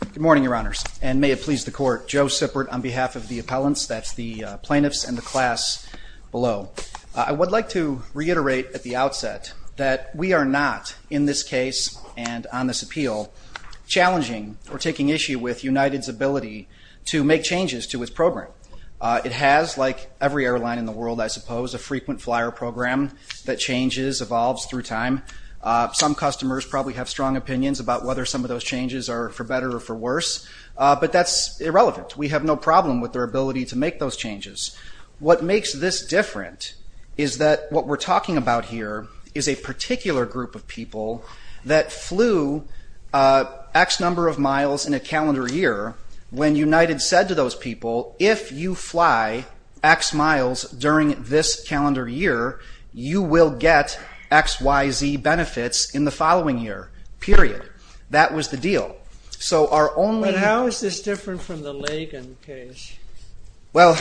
Good morning, your honors, and may it please the court, Joe Sippert on behalf of the appellants, that's the plaintiffs and the class below. I would like to reiterate at the outset that we are not, in this case and on this appeal, challenging or taking issue with United's ability to make changes to its program. It has, like every airline in the world, I suppose, a frequent flyer program that changes, evolves through time. Some customers probably have strong opinions about whether some of those changes are for better or for worse, but that's irrelevant. We have no problem with their ability to make those changes. What makes this different is that what we're talking about here is a particular group of people that flew X number of miles in a calendar year when United said to those people, if you fly X miles during this calendar year, you will get X, Y, Z benefits in the following year, period. That was the deal. But how is this different from the Lagan case? Well,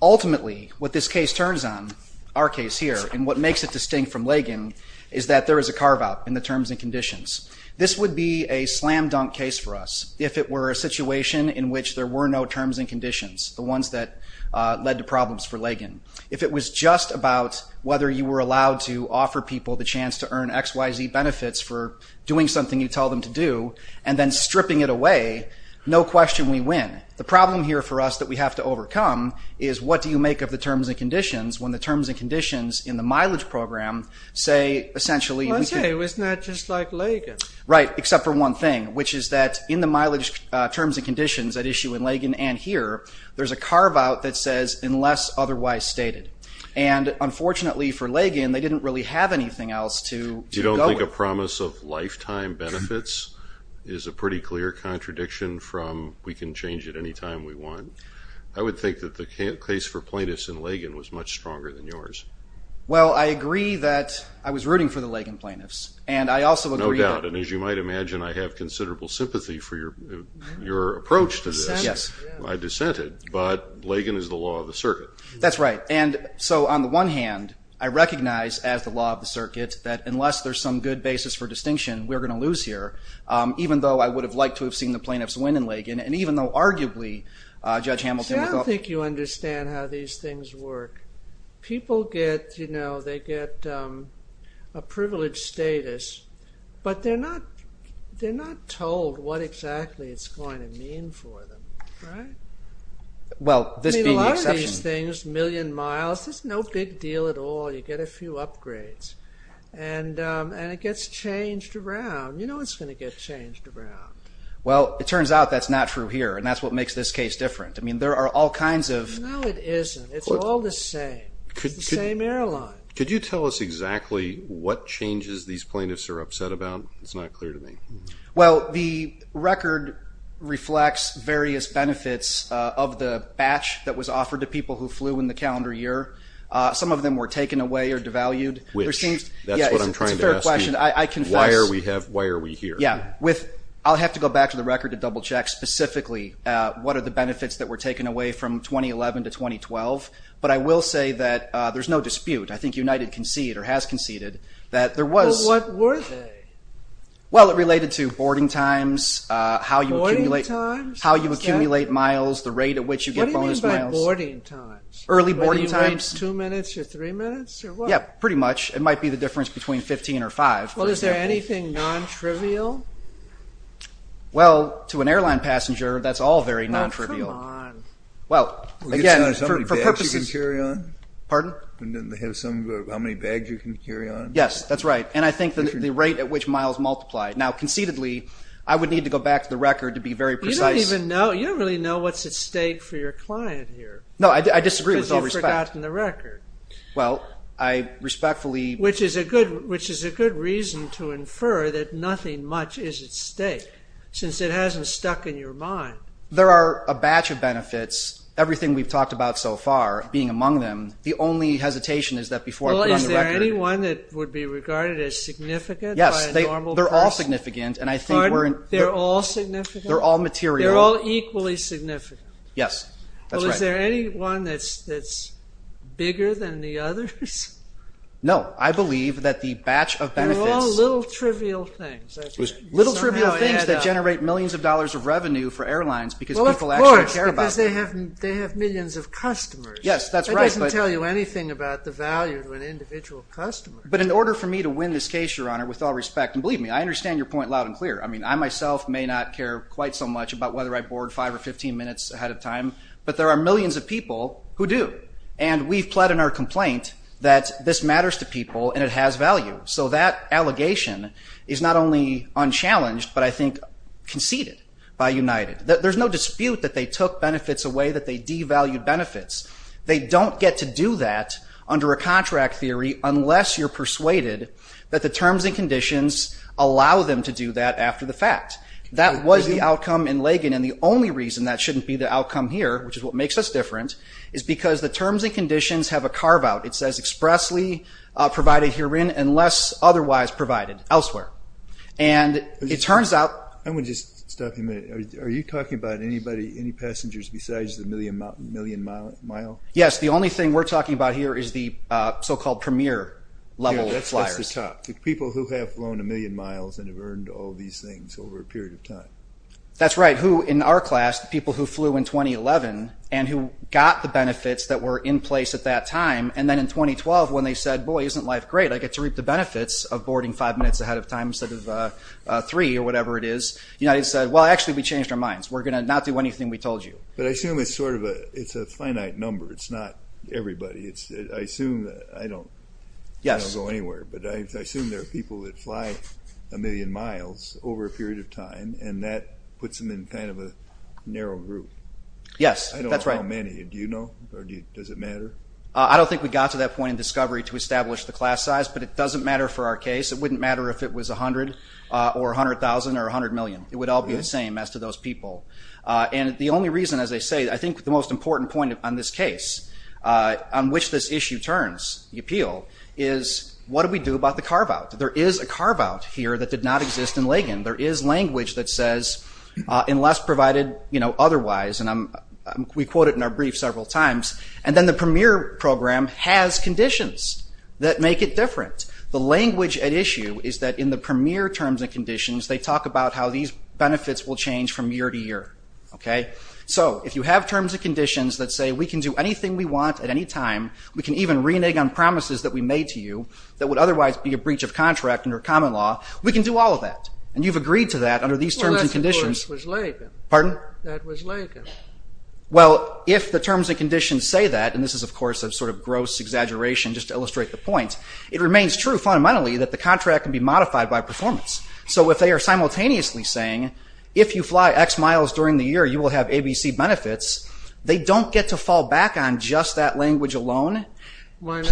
ultimately, what this case turns on, our case here, and what makes it distinct from Lagan is that there is a carve-out in the terms and conditions. This would be a slam-dunk case for us if it were a situation in which there were no terms and conditions, the ones that led to problems for Lagan. If it was just about whether you were allowed to offer people the chance to earn X, Y, Z benefits for doing something you tell them to do and then stripping it away, no question, we win. The problem here for us that we have to overcome is what do you make of the terms and conditions when the terms and conditions in the mileage program say, essentially, we can... Right, except for one thing, which is that in the mileage terms and conditions at issue in Lagan and here, there's a carve-out that says, unless otherwise stated. And unfortunately for Lagan, they didn't really have anything else to go with. You don't think a promise of lifetime benefits is a pretty clear contradiction from we can change it anytime we want? I would think that the case for plaintiffs in Lagan was much stronger than yours. Well, I agree that I was rooting for the Lagan plaintiffs. And I also agree that... No doubt. And as you might imagine, I have considerable sympathy for your approach to this. Yes. I dissented, but Lagan is the law of the circuit. That's right. And so on the one hand, I recognize as the law of the circuit that unless there's some good basis for distinction, we're going to lose here, even though I would have liked to have seen the plaintiffs win in Lagan. And even though, arguably, Judge Hamilton... I don't think you understand how these things work. People get, you know, they get a privileged status, but they're not told what exactly it's going to mean for them, right? Well, this being the exception... I mean, a lot of these things, a million miles, it's no big deal at all. You get a few upgrades and it gets changed around. You know it's going to get changed around. Well, it turns out that's not true here. And that's what makes this case different. I mean, there are all kinds of... No, it isn't. It's all the same. It's the same airline. Could you tell us exactly what changes these plaintiffs are upset about? It's not clear to me. Well, the record reflects various benefits of the batch that was offered to people who flew in the calendar year. Some of them were taken away or devalued. Which, that's what I'm trying to ask you. Why are we here? Yeah, I'll have to go back to the record to double check specifically. What are the benefits that were taken away from 2011 to 2012? But I will say that there's no dispute. I think United conceded, or has conceded, that there was... Well, what were they? Well, it related to boarding times, how you accumulate miles, the rate at which you get bonus miles. What do you mean by boarding times? Early boarding times. Two minutes or three minutes, or what? Yeah, pretty much. It might be the difference between 15 or five. Well, is there anything non-trivial? Well, to an airline passenger, that's all very non-trivial. Oh, come on. Well, again, for purposes... How many bags you can carry on? Pardon? How many bags you can carry on? Yes, that's right. And I think the rate at which miles multiply. Now, concededly, I would need to go back to the record to be very precise. You don't even know. You don't really know what's at stake for your client here. No, I disagree with all respect. Because you've forgotten the record. Well, I respectfully... Which is a good reason to infer that nothing much is at stake, since it hasn't stuck in your mind. There are a batch of benefits. Everything we've talked about so far, being among them, the only hesitation is that before I put on the record... Well, is there anyone that would be regarded as significant by a normal person? Yes, they're all significant, and I think we're... Pardon? They're all significant? They're all material. They're all equally significant? Yes, that's right. Well, is there anyone that's bigger than the others? No, I believe that the batch of benefits... They're all little trivial things. Little trivial things that generate millions of dollars of revenue for airlines because people actually care about them. Well, of course, because they have millions of customers. Yes, that's right, but... That doesn't tell you anything about the value to an individual customer. But in order for me to win this case, Your Honor, with all respect, and believe me, I understand your point loud and clear. I mean, I myself may not care quite so much about whether I board 5 or 15 minutes ahead of time, but there are millions of people who do. And we've pled in our complaint that this matters to people, and it has value. So that allegation is not only unchallenged, but I think conceded by United. There's no dispute that they took benefits away, that they devalued benefits. They don't get to do that under a contract theory unless you're persuaded that the terms and conditions allow them to do that after the fact. That was the outcome in Lagan, and the only reason that shouldn't be the outcome here, which is what makes us different, is because the terms and conditions have a carve-out. It says expressly provided herein, unless otherwise provided elsewhere. And it turns out... I want to just stop you a minute. Are you talking about any passengers besides the million-mile? Yes, the only thing we're talking about here is the so-called premier-level flyers. People who have flown a million miles and have earned all these things over a period of time. That's right, who in our class, people who flew in 2011, and who got the benefits that were in place at that time, and then in 2012, when they said, boy, isn't life great? I get to reap the benefits of boarding five minutes ahead of time instead of three, or whatever it is. The United States said, well, actually, we changed our minds. We're going to not do anything we told you. But I assume it's a finite number. It's not everybody. I don't go anywhere, but I assume there are people that fly a million miles over a period of time, and that puts them in kind of a narrow group. Yes, that's right. I don't know how many. Do you know? Does it matter? I don't think we got to that point in discovery to establish the class size, but it doesn't matter for our case. It wouldn't matter if it was 100, or 100,000, or 100 million. It would all be the same as to those people. The only reason, as I say, I think the most important point on this case on which this issue turns, the appeal, is what do we do about the carve-out? There is a carve-out here that did not exist in Legan. There is language that says, unless provided otherwise, and we quote it in our brief several times, and then the PREMIER program has conditions that make it different. The language at issue is that in the PREMIER terms and conditions, they talk about how these benefits will change from year to year. So if you have terms and conditions that say we can do anything we want at any time, we can even renege on promises that we made to you that would otherwise be a breach of contract under common law, we can do all of that. And you've agreed to that under these terms and conditions. Well, if the terms and conditions say that, and this is of course a sort of gross exaggeration just to illustrate the point, it remains true fundamentally that the contract can be modified by performance. So if they are simultaneously saying if you fly x miles during the year you will have ABC benefits, they don't get to fall back on just that language alone. Why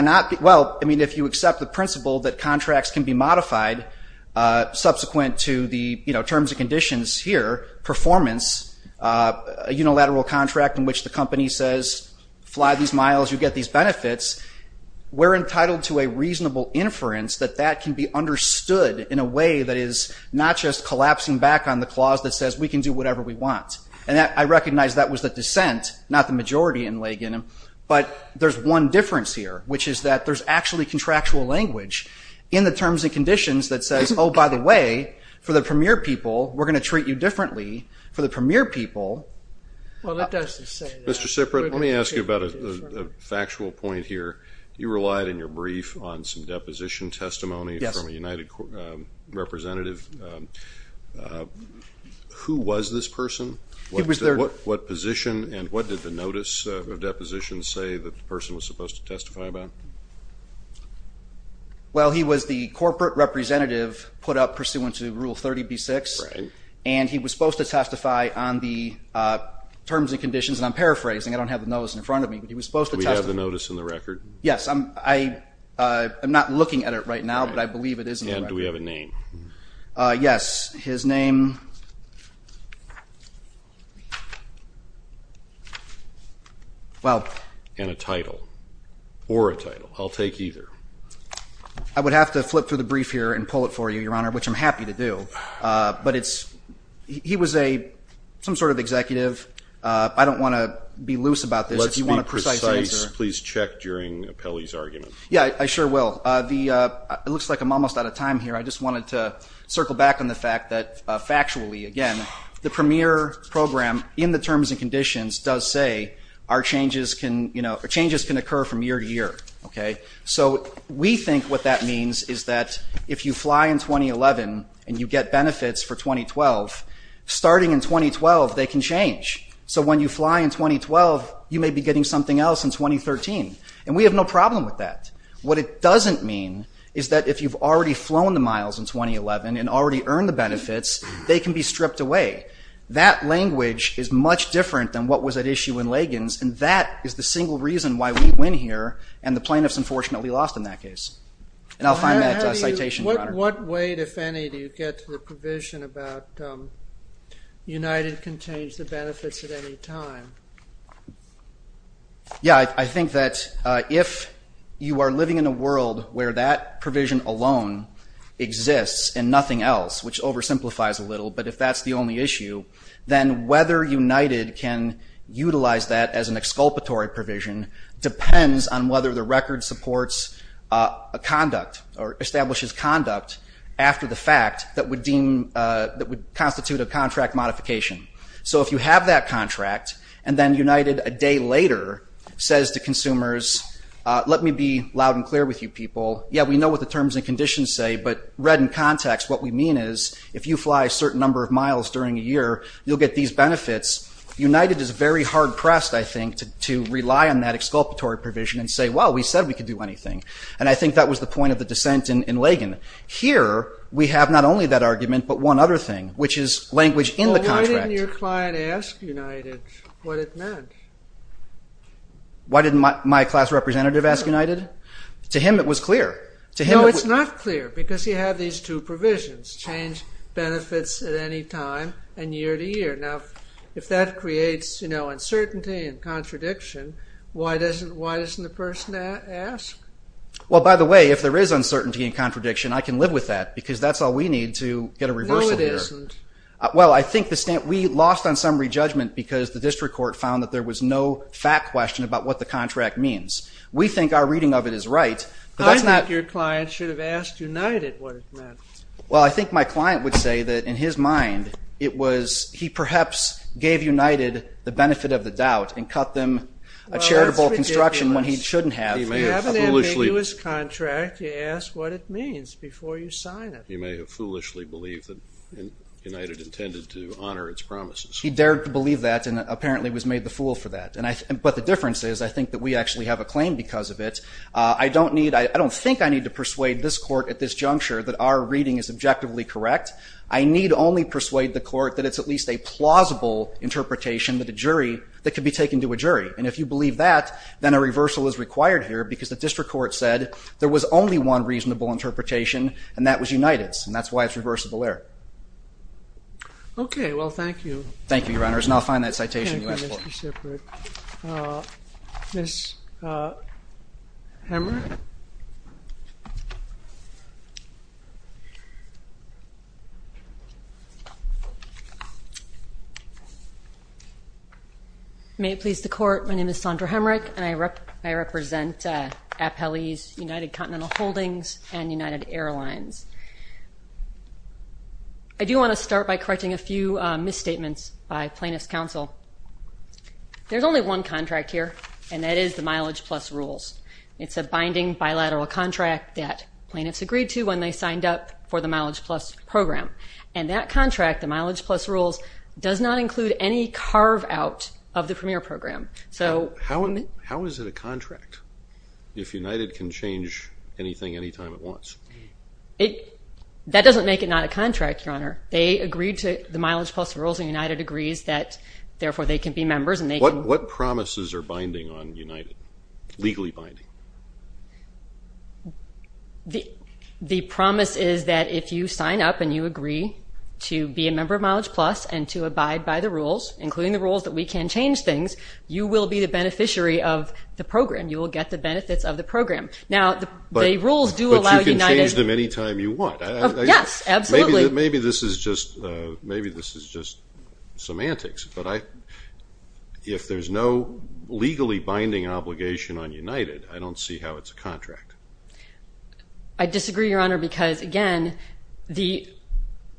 not? Well, I mean, if you accept the principle that contracts can be modified subsequent to the terms and conditions here, performance, a unilateral contract in which the company says fly these miles, you get these benefits, we're entitled to a reasonable inference that that can be understood in a way that is not just collapsing back on the clause that says we can do whatever we want. And I recognize that was the dissent, not the majority in Legan, but there's one difference here, which is that there's actually contractual language in the terms and conditions that says oh, by the way, for the Premier people we're going to treat you differently. For the Premier people... Mr. Siprit, let me ask you about a factual point here. You relied in your brief on some deposition testimony from a United Representative. Who was this person? What position and what did the notice of deposition say that the person was supposed to testify about? Well, he was the corporate representative put up pursuant to Rule 30b-6 and he was supposed to testify on the terms and conditions and I'm paraphrasing, I don't have the notice in front of me, but he was supposed to testify. Do we have the notice in the record? Yes, I'm not looking at it right now, but I believe it is in the record. And do we have a name? Yes, his name... And a title. Or a title. I'll take either. I would have to flip through the brief here and pull it for you, Your Honor, which I'm happy to do, but it's... He was a... some sort of executive. I don't want to be loose about this. Let's be precise. Please check during Pele's argument. Yeah, I sure will. It looks like I'm almost out of time here. I just wanted to circle back on the fact that, factually, again, the premier program in the terms and conditions does say our changes can occur from year to year. So we think what that means is that if you fly in 2011 and you get benefits for 2012, starting in 2012 they can change. So when you fly in 2012, you may be getting something else in 2013. And we have no problem with that. What it doesn't mean is that if you've already flown the miles in 2011 and already earned the benefits, they can be stripped away. That language is much different than what was at issue in Lagan's and that is the single reason why we win here and the plaintiffs unfortunately lost in that case. And I'll find that citation, Your Honor. What weight, if any, do you get to the provision about United can change the benefits at any time? Yeah, I think that if you are living in a world where that provision alone exists and nothing else, which oversimplifies a little, but if that's the only issue, then whether United can utilize that as an exculpatory provision depends on whether the record supports a conduct or establishes conduct after the fact that would constitute a contract modification. So if you have that contract and then United a day later says to consumers, let me be loud and clear with you people. Yeah, we know what the terms and conditions say, but read in context, what we mean is if you fly a certain number of miles during a year, you'll get these benefits. United is very hard-pressed, I think, to rely on that exculpatory provision and say, well, we said we could do anything. And I think that was the point of the dissent in Lagan. Here, we have not only that argument, but one other thing, which is language in the contract. Why didn't your client ask United what it meant? Why didn't my class representative ask United? To him it was clear. No, it's not clear, because you have these two provisions, change benefits at any time and year to year. Now, if that creates uncertainty and contradiction, why doesn't the person ask? Well, by the way, if there is uncertainty and contradiction, I can live with that, because that's all we need to get a reversal here. Well, I think we lost on summary judgment, because the district court found that there was no fact question about what the contract means. We think our reading of it is right. I think your client should have asked United what it meant. Well, I think my client would say that in his mind it was, he perhaps gave United the benefit of the doubt and cut them a charitable construction when he shouldn't have. You have an ambiguous contract, you ask what it means before you sign it. You may have foolishly believed that United intended to honor its promises. He dared to believe that and apparently was made the fool for that. But the difference is, I think that we actually have a claim because of it. I don't need, I don't think I need to persuade this court at this juncture that our reading is objectively correct. I need only persuade the court that it's at least a plausible interpretation that a jury, that could be taken to a jury. And if you believe that, then a reversal is required here, because the district court said there was only one reasonable interpretation, and that was United's. And that's why it's reversible error. Okay, well, thank you. Thank you, Your Honors, and I'll find that citation. Thank you, Mr. Shippard. Ms. Hemrick? May it please the court, my name is Sandra Hemrick, and I represent Appellee's United Continental Holdings and United Airlines. I do want to start by correcting a few misstatements by Plaintiff's Counsel. There's only one contract here, and that is the Mileage Plus Rules. It's a binding bilateral contract that plaintiffs agreed to when they signed up for the Mileage Plus Program. And that contract, the Mileage Plus Rules, does not include any carve-out of the Premier Program. So... How is it a contract if United can change anything anytime it wants? That doesn't make it not a contract, Your Honor. They agreed to the Mileage Plus Rules, and United agrees that therefore they can be members and they can... What promises are binding on United? Legally binding? The promise is that if you sign up and you agree to be a member of Mileage Plus and to abide by the rules, including the rules that we can change things, you will be the get the benefits of the program. Now, the rules do allow United... But you can change them anytime you want. Yes, absolutely. Maybe this is just semantics, but I... If there's no legally binding obligation on United, I don't see how it's a contract. I disagree, Your Honor, because, again, the...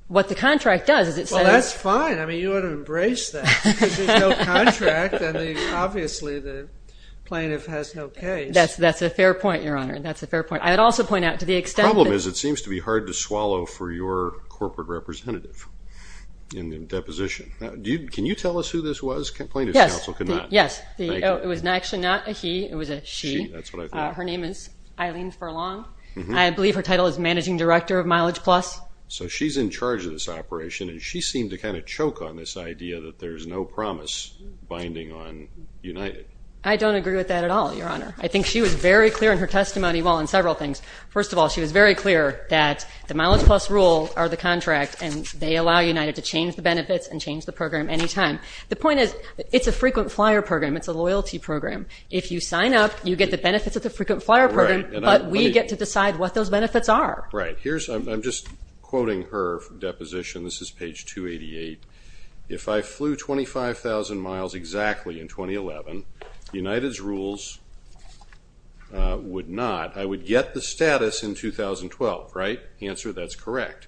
What the contract does is it says... Well, that's fine. I mean, you ought to embrace that. There's no contract, and obviously the plaintiff has no case. That's a fair point, Your Honor. I'd also point out to the extent that... The problem is it seems to be hard to swallow for your corporate representative in the deposition. Can you tell us who this was? Plaintiff's counsel cannot. Yes. It was actually not a he, it was a she. She, that's what I thought. Her name is Eileen Furlong. I believe her title is Managing Director of Mileage Plus. So she's in charge of this operation, and she seemed to kind of choke on this idea that there's no promise binding on United. I don't agree with that at all, Your Honor. I think she was very clear in her testimony, well, in several things. First of all, she was very clear that the Mileage Plus rule or the contract, and they allow United to change the benefits and change the program anytime. The point is, it's a frequent flyer program. It's a loyalty program. If you sign up, you get the benefits of the frequent flyer program, but we get to decide what those benefits are. Right. Here's... I'm just quoting her deposition. This is page 288. If I flew 25,000 miles exactly in 2011, United's rules would not. I would get the status in 2012, right? Answer, that's correct.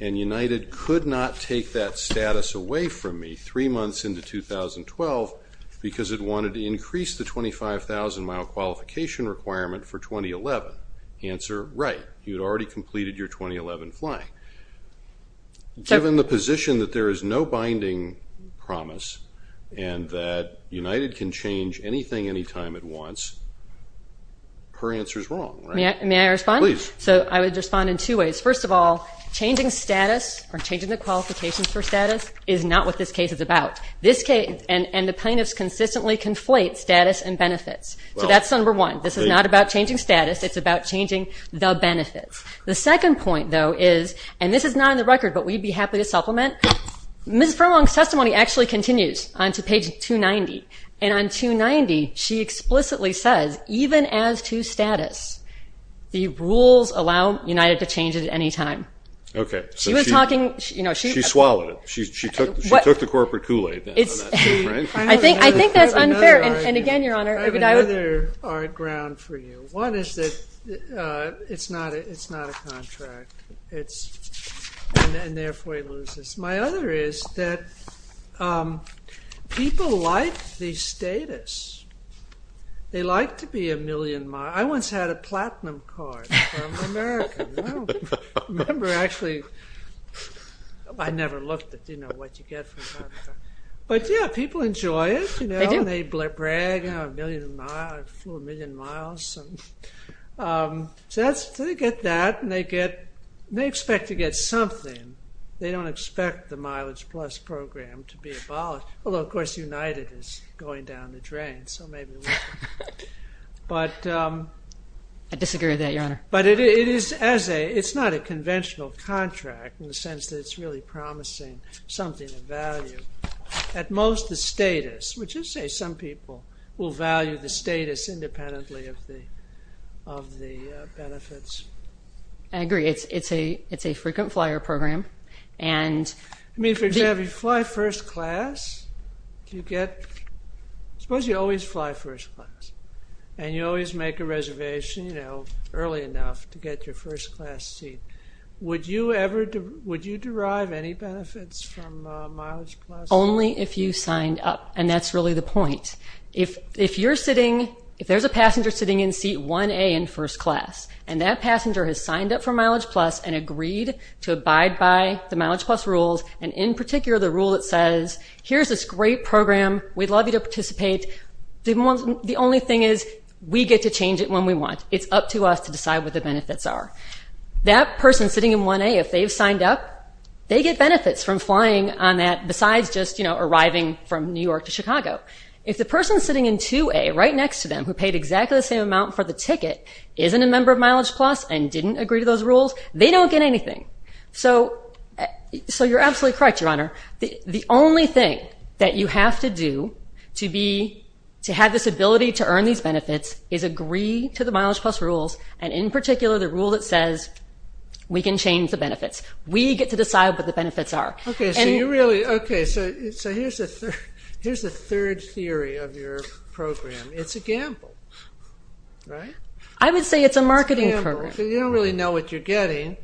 And United could not take that status away from me three months into 2012 because it wanted to increase the 25,000 mile qualification requirement for 2011. Answer, right. You'd already completed your 2011 flying. Given the position that there is no binding promise and that United can change anything anytime it wants, her answer is wrong. May I respond? Please. I would respond in two ways. First of all, changing status or changing the qualifications for status is not what this case is about. And the plaintiffs consistently conflate status and benefits. That's number one. This is not about changing status. It's about changing the benefits. The second point, though, is and this is not on the record, but we'd be happy to supplement. Mrs. Furlong's testimony actually continues onto page 290. And on 290, she explicitly says, even as to status, the rules allow United to change it at any time. Okay. She swallowed it. She took the corporate Kool-Aid. I think that's unfair. And again, Your Honor. I have another hard ground for you. One is that it's not a contract. And therefore, he loses. My other is that people like the status. They like to be a million miles. I once had a platinum card from America. I don't remember actually. I never looked at what you get from America. But yeah, people enjoy it. They brag, I flew a million miles. So they get that and they expect to get something. They don't expect the mileage plus program to be abolished. Although, of course, United is going down the drain, so maybe we can. But I disagree with that, Your Honor. It's not a conventional contract in the sense that it's really promising something of value. At most, the status, which is to say some people will value the status independently of the benefits. I agree. It's a frequent flyer program. For example, you fly first class. Suppose you always fly first class. And you always make a reservation early enough to get your first class seat. Would you derive any benefits from mileage plus? Only if you signed up. And that's really the point. If you're sitting, if there's a passenger sitting in seat 1A in first class, and that passenger has signed up for mileage plus and agreed to abide by the mileage plus rules, and in particular the rule that says here's this great program, we'd love you to participate, the only thing is we get to change it when we want. It's up to us to decide what the benefits are. That person sitting in 1A, if they've signed up, they get benefits from flying on that besides just arriving from New York to Chicago. If the person sitting in 2A right next to them who paid exactly the same amount for the ticket isn't a member of mileage plus and didn't agree to those rules, they don't get anything. So, you're absolutely correct, Your Honor. The only thing that you have to do to have this ability to earn these benefits is agree to the mileage plus rules, and in particular the rule that says we can change the benefits. We get to decide what the benefits are. So, here's the third theory of your program. It's a gamble. I would say it's a marketing program. You don't really know what you're getting.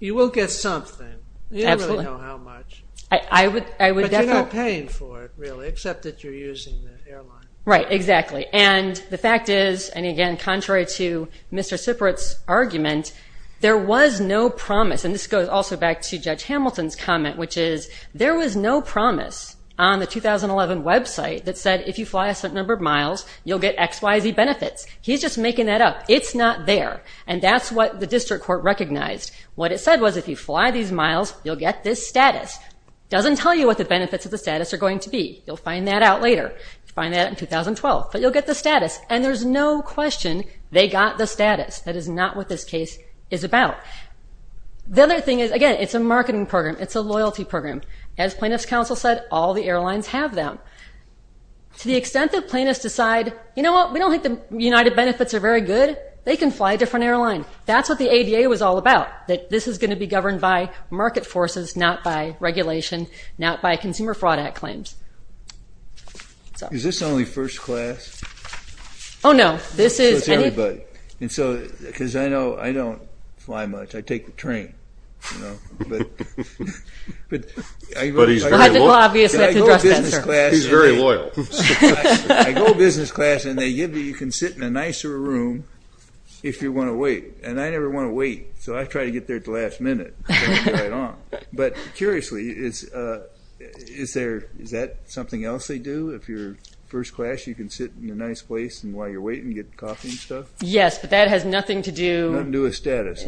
You will get something. You don't really know how much. But you're not paying for it, really, except that you're using the airline. Right, exactly. And the fact is, and again, contrary to Mr. Siprit's argument, there was no promise, and this goes also back to Judge Hamilton's comment, which is there was no promise on the 2011 website that said if you fly a certain number of miles, you'll get XYZ benefits. He's just making that up. It's not there. And that's what the district court recognized. What it said was if you fly these miles, you'll get this status. It doesn't tell you what the benefits of the status are going to be. You'll find that out later. You'll find that out in 2012, but you'll get the status. And there's no question they got the status. That is not what this case is about. The other thing is, again, it's a marketing program. It's a loyalty program. As plaintiff's counsel said, all the airlines have them. To the extent that plaintiffs decide, you know what, we don't think the United Benefits are very good, they can fly a different airline. That's what the ADA was all about, that this is going to be governed by market forces, not by regulation, not by Consumer Fraud Act claims. Is this only first class? Oh, no. So it's everybody. And so, because I know I don't fly much. I take the train. But he's very loyal. He's very loyal. I go business class and they give me, you can sit in a nicer room if you want to wait. And I never want to wait. So I try to get there at the last minute. But curiously, is that something else they do? If you're first class, you can sit in a nice place and while you're waiting, get coffee and stuff? Yes, but that has nothing to do with status.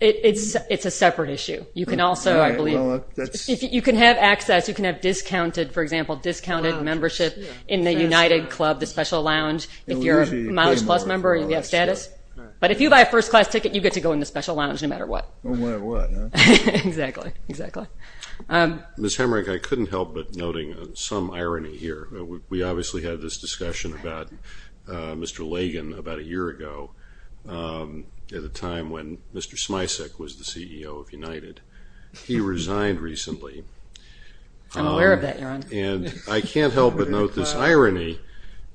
It's a separate issue. You can also, I believe, you can have access, you can have discounted, for example, discounted membership in the United Club, the special lounge, if you're a mileage plus member and you have status. But if you buy a first class ticket, you get to go in the special lounge no matter what. No matter what. Exactly. Ms. Hemrick, I couldn't help but noting some of this discussion about Mr. Lagan about a year ago at a time when Mr. Smisek was the CEO of United. He resigned recently. I'm aware of that, Aaron. And I can't help but note this irony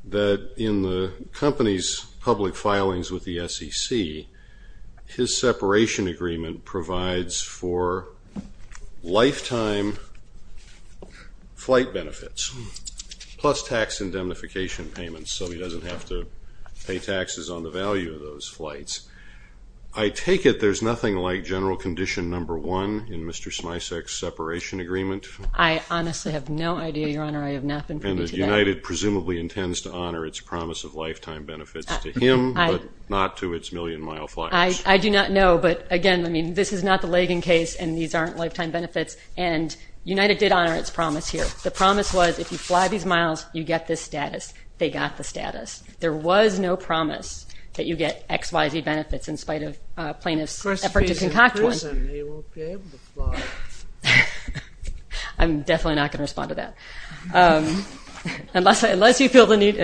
that in the company's public filings with the SEC, his separation agreement provides for lifetime flight benefits plus tax indemnification payments so he doesn't have to pay taxes on the value of those flights. I take it there's nothing like general condition number one in Mr. Smisek's separation agreement? I honestly have no idea, Your Honor. I have not been And United presumably intends to honor its promise of lifetime benefits to him but not to its million mile fliers. I do not know, but again, I mean this is not the Lagan case and these aren't lifetime benefits. And United did honor its promise here. The promise was if you fly these miles, you get this status. They got the status. There was no promise that you get XYZ benefits in spite of plaintiff's effort to concoct one. I'm definitely not going to respond to that. you feel the need.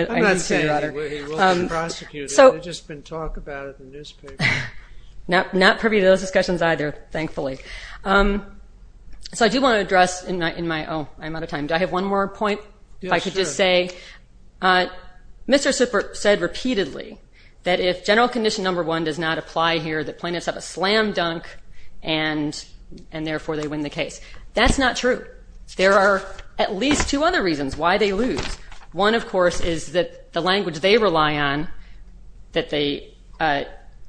Not privy to those discussions either, thankfully. I do want to address I'm out of time. Do I have one more point? If I could just say Mr. Super said repeatedly that if general condition number one does not apply here, the plaintiffs have a slam dunk and therefore they win the case. That's not true. There are at least two other reasons why they lose. One, of course, is that the language they rely on that the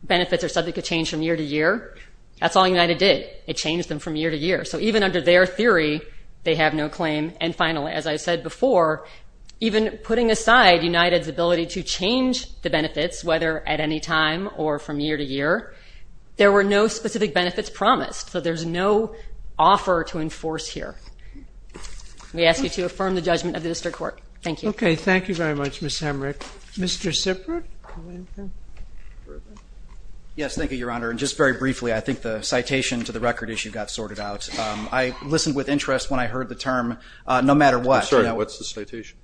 benefits are subject to change from year to year. That's all United did. It changed them from year to year. So even under their theory they have no claim. And finally as I said before, even putting aside United's ability to change the benefits, whether at any time or from year to year, there were no specific benefits promised. So there's no offer to enforce here. We ask you to affirm the judgment of the District Court. Thank you. Okay, thank you very much Ms. Hemrick. Mr. Sipert? Yes, thank you, Your Honor. And just very briefly, I think the citation to the record issue got sorted out. I listened with interest when I heard the term, no matter what. I'm sorry, what's the citation?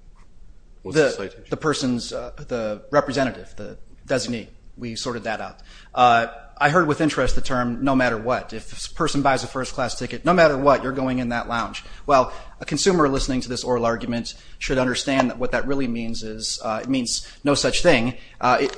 The person's, the representative, the designee. We sorted that out. I heard with interest the term, no matter what. If a person buys a first class ticket, no matter what, you're going in that lounge. Well, a consumer listening to this oral argument should understand that what that really means is, it means no such thing.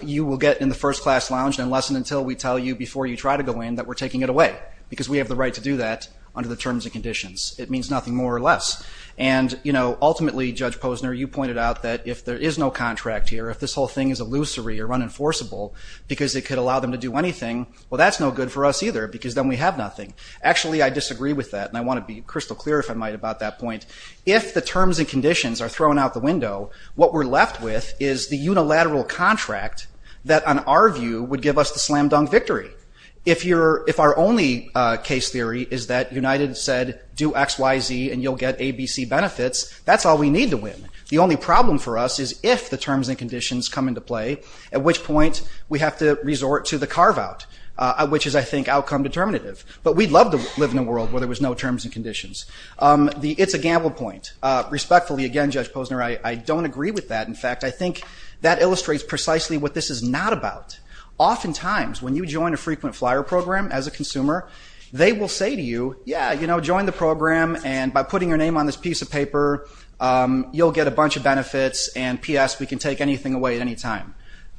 You will get in the first class lounge unless and until we tell you before you try to go in that we're taking it away. Because we have the right to do that under the terms and conditions. It means nothing more or less. And, you know, ultimately Judge Posner, you pointed out that if there is no contract here, if this whole thing is illusory or unenforceable because it could allow them to do anything, well that's no good for us either because then we have nothing. Actually, I disagree with that and I want to be crystal clear, if I might, about that point. If the terms and conditions are thrown out the window, what we're left with is the unilateral contract that, on our view, would give us the slam dunk victory. If our only case theory is that United said do X, Y, Z and you'll get A, B, C benefits, that's all we need to win. The only problem for us is if the terms and conditions come into play, at which point we have to resort to the carve out, which is, I think, outcome determinative. But we'd love to live in a world where there was no terms and conditions. It's a gamble point. Respectfully, again, Judge Posner, I don't agree with that. In fact, I think that illustrates precisely what this is not about. Oftentimes, when you join a frequent flyer program as a consumer, they will say to you, yeah, join the program and by putting your name on this piece of paper, you'll get a bunch of benefits and, P.S., we can take anything away at any time.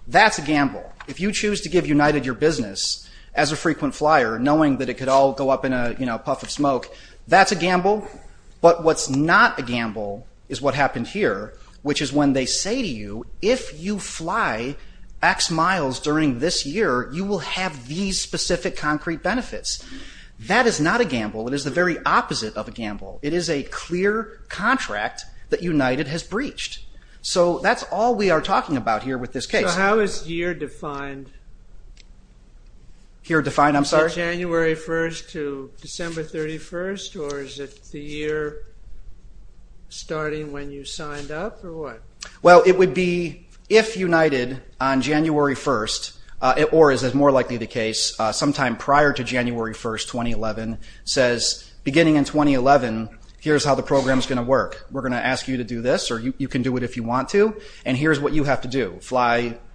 That's a gamble. If you choose to give United your business as a frequent flyer, knowing that it could all go up in a puff of smoke, that's a gamble, is what happened here, which is when they say to you, if you fly X miles during this year, you will have these specific concrete benefits. That is not a gamble. It is the very opposite of a gamble. It is a clear contract that United has breached. So that's all we are talking about here with this case. So how is year defined? Year defined, I'm sorry? Is it January 1st to December 31st, or is it the year starting when you signed up, or what? Well, it would be if United, on January 1st, or as is more likely the case, sometime prior to January 1st, 2011, says, beginning in 2011, here's how the program is going to work. We're going to ask you to do this, or you can do it if you want to, and here's what you have to do.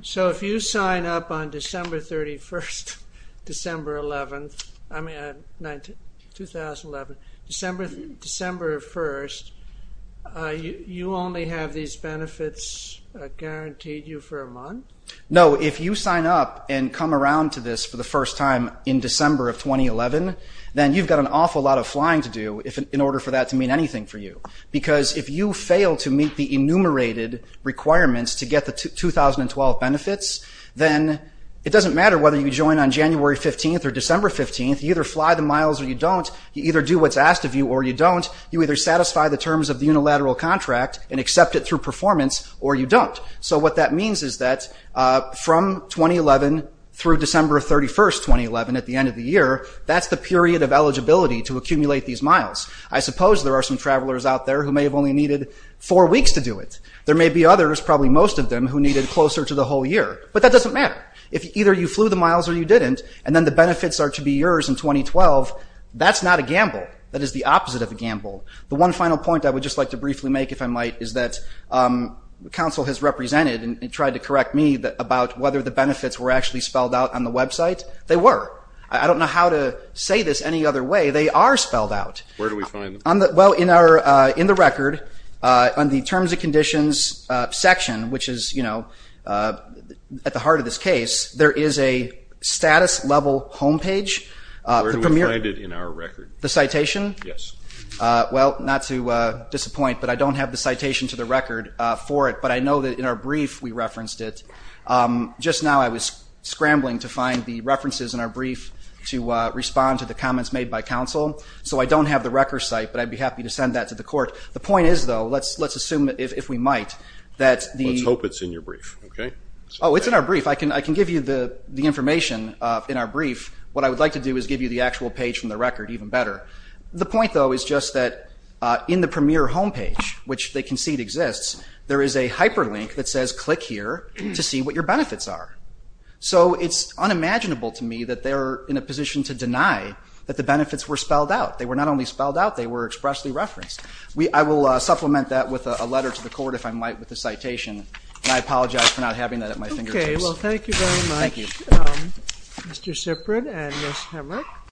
So if you sign up on December 31st, December 11th, I mean, 2011, December 1st, you only have these benefits guaranteed you for a month? No, if you sign up and come around to this for the first time in December of 2011, then you've got an awful lot of flying to do in order for that to mean anything for you. Because if you fail to meet the enumerated requirements to get the 2012 benefits, then it doesn't matter whether you join on January 15th or December 15th, you either fly the miles or you don't, you either do what's asked of you or you don't, you either satisfy the terms of the unilateral contract and accept it through performance, or you don't. So what that means is that from 2011 through December 31st, 2011, at the end of the year, that's the period of eligibility to accumulate these miles. I suppose there are some travelers out there who may have only needed four weeks to do it. There may be others, probably most of them, who needed closer to the whole year. But that doesn't matter. If either you or the benefits are to be yours in 2012, that's not a gamble. That is the opposite of a gamble. The one final point I would just like to briefly make, if I might, is that the Council has represented and tried to correct me about whether the benefits were actually spelled out on the website. They were. I don't know how to say this any other way. They are spelled out. Where do we find them? In the record, on the Terms and Conditions section, which is at the heart of this case, there is a status level homepage. Where do we find it in our record? The citation? Yes. Well, not to disappoint, but I don't have the citation to the record for it, but I know that in our brief we referenced it. Just now I was scrambling to find the references in our brief to respond to the comments made by Council. So I don't have the record site, but I'd be happy to send that to the Court. The point is, though, let's assume, if we might, that the... Let's hope it's in your brief. Oh, it's in our brief. I can give you the information in our brief. What I would like to do is give you the actual page from the record, even better. The point, though, is just that in the premier homepage, which they concede exists, there is a hyperlink that says, click here to see what your benefits are. So it's unimaginable to me that they're in a position to deny that the benefits were spelled out. They were not only spelled out, they were expressly referenced. I will supplement that with a letter to the Court, if I might, with a citation. And I apologize for not having that at my fingertips. Okay. Well, thank you very much. Thank you. Mr. Siprin and Ms. Hemrick.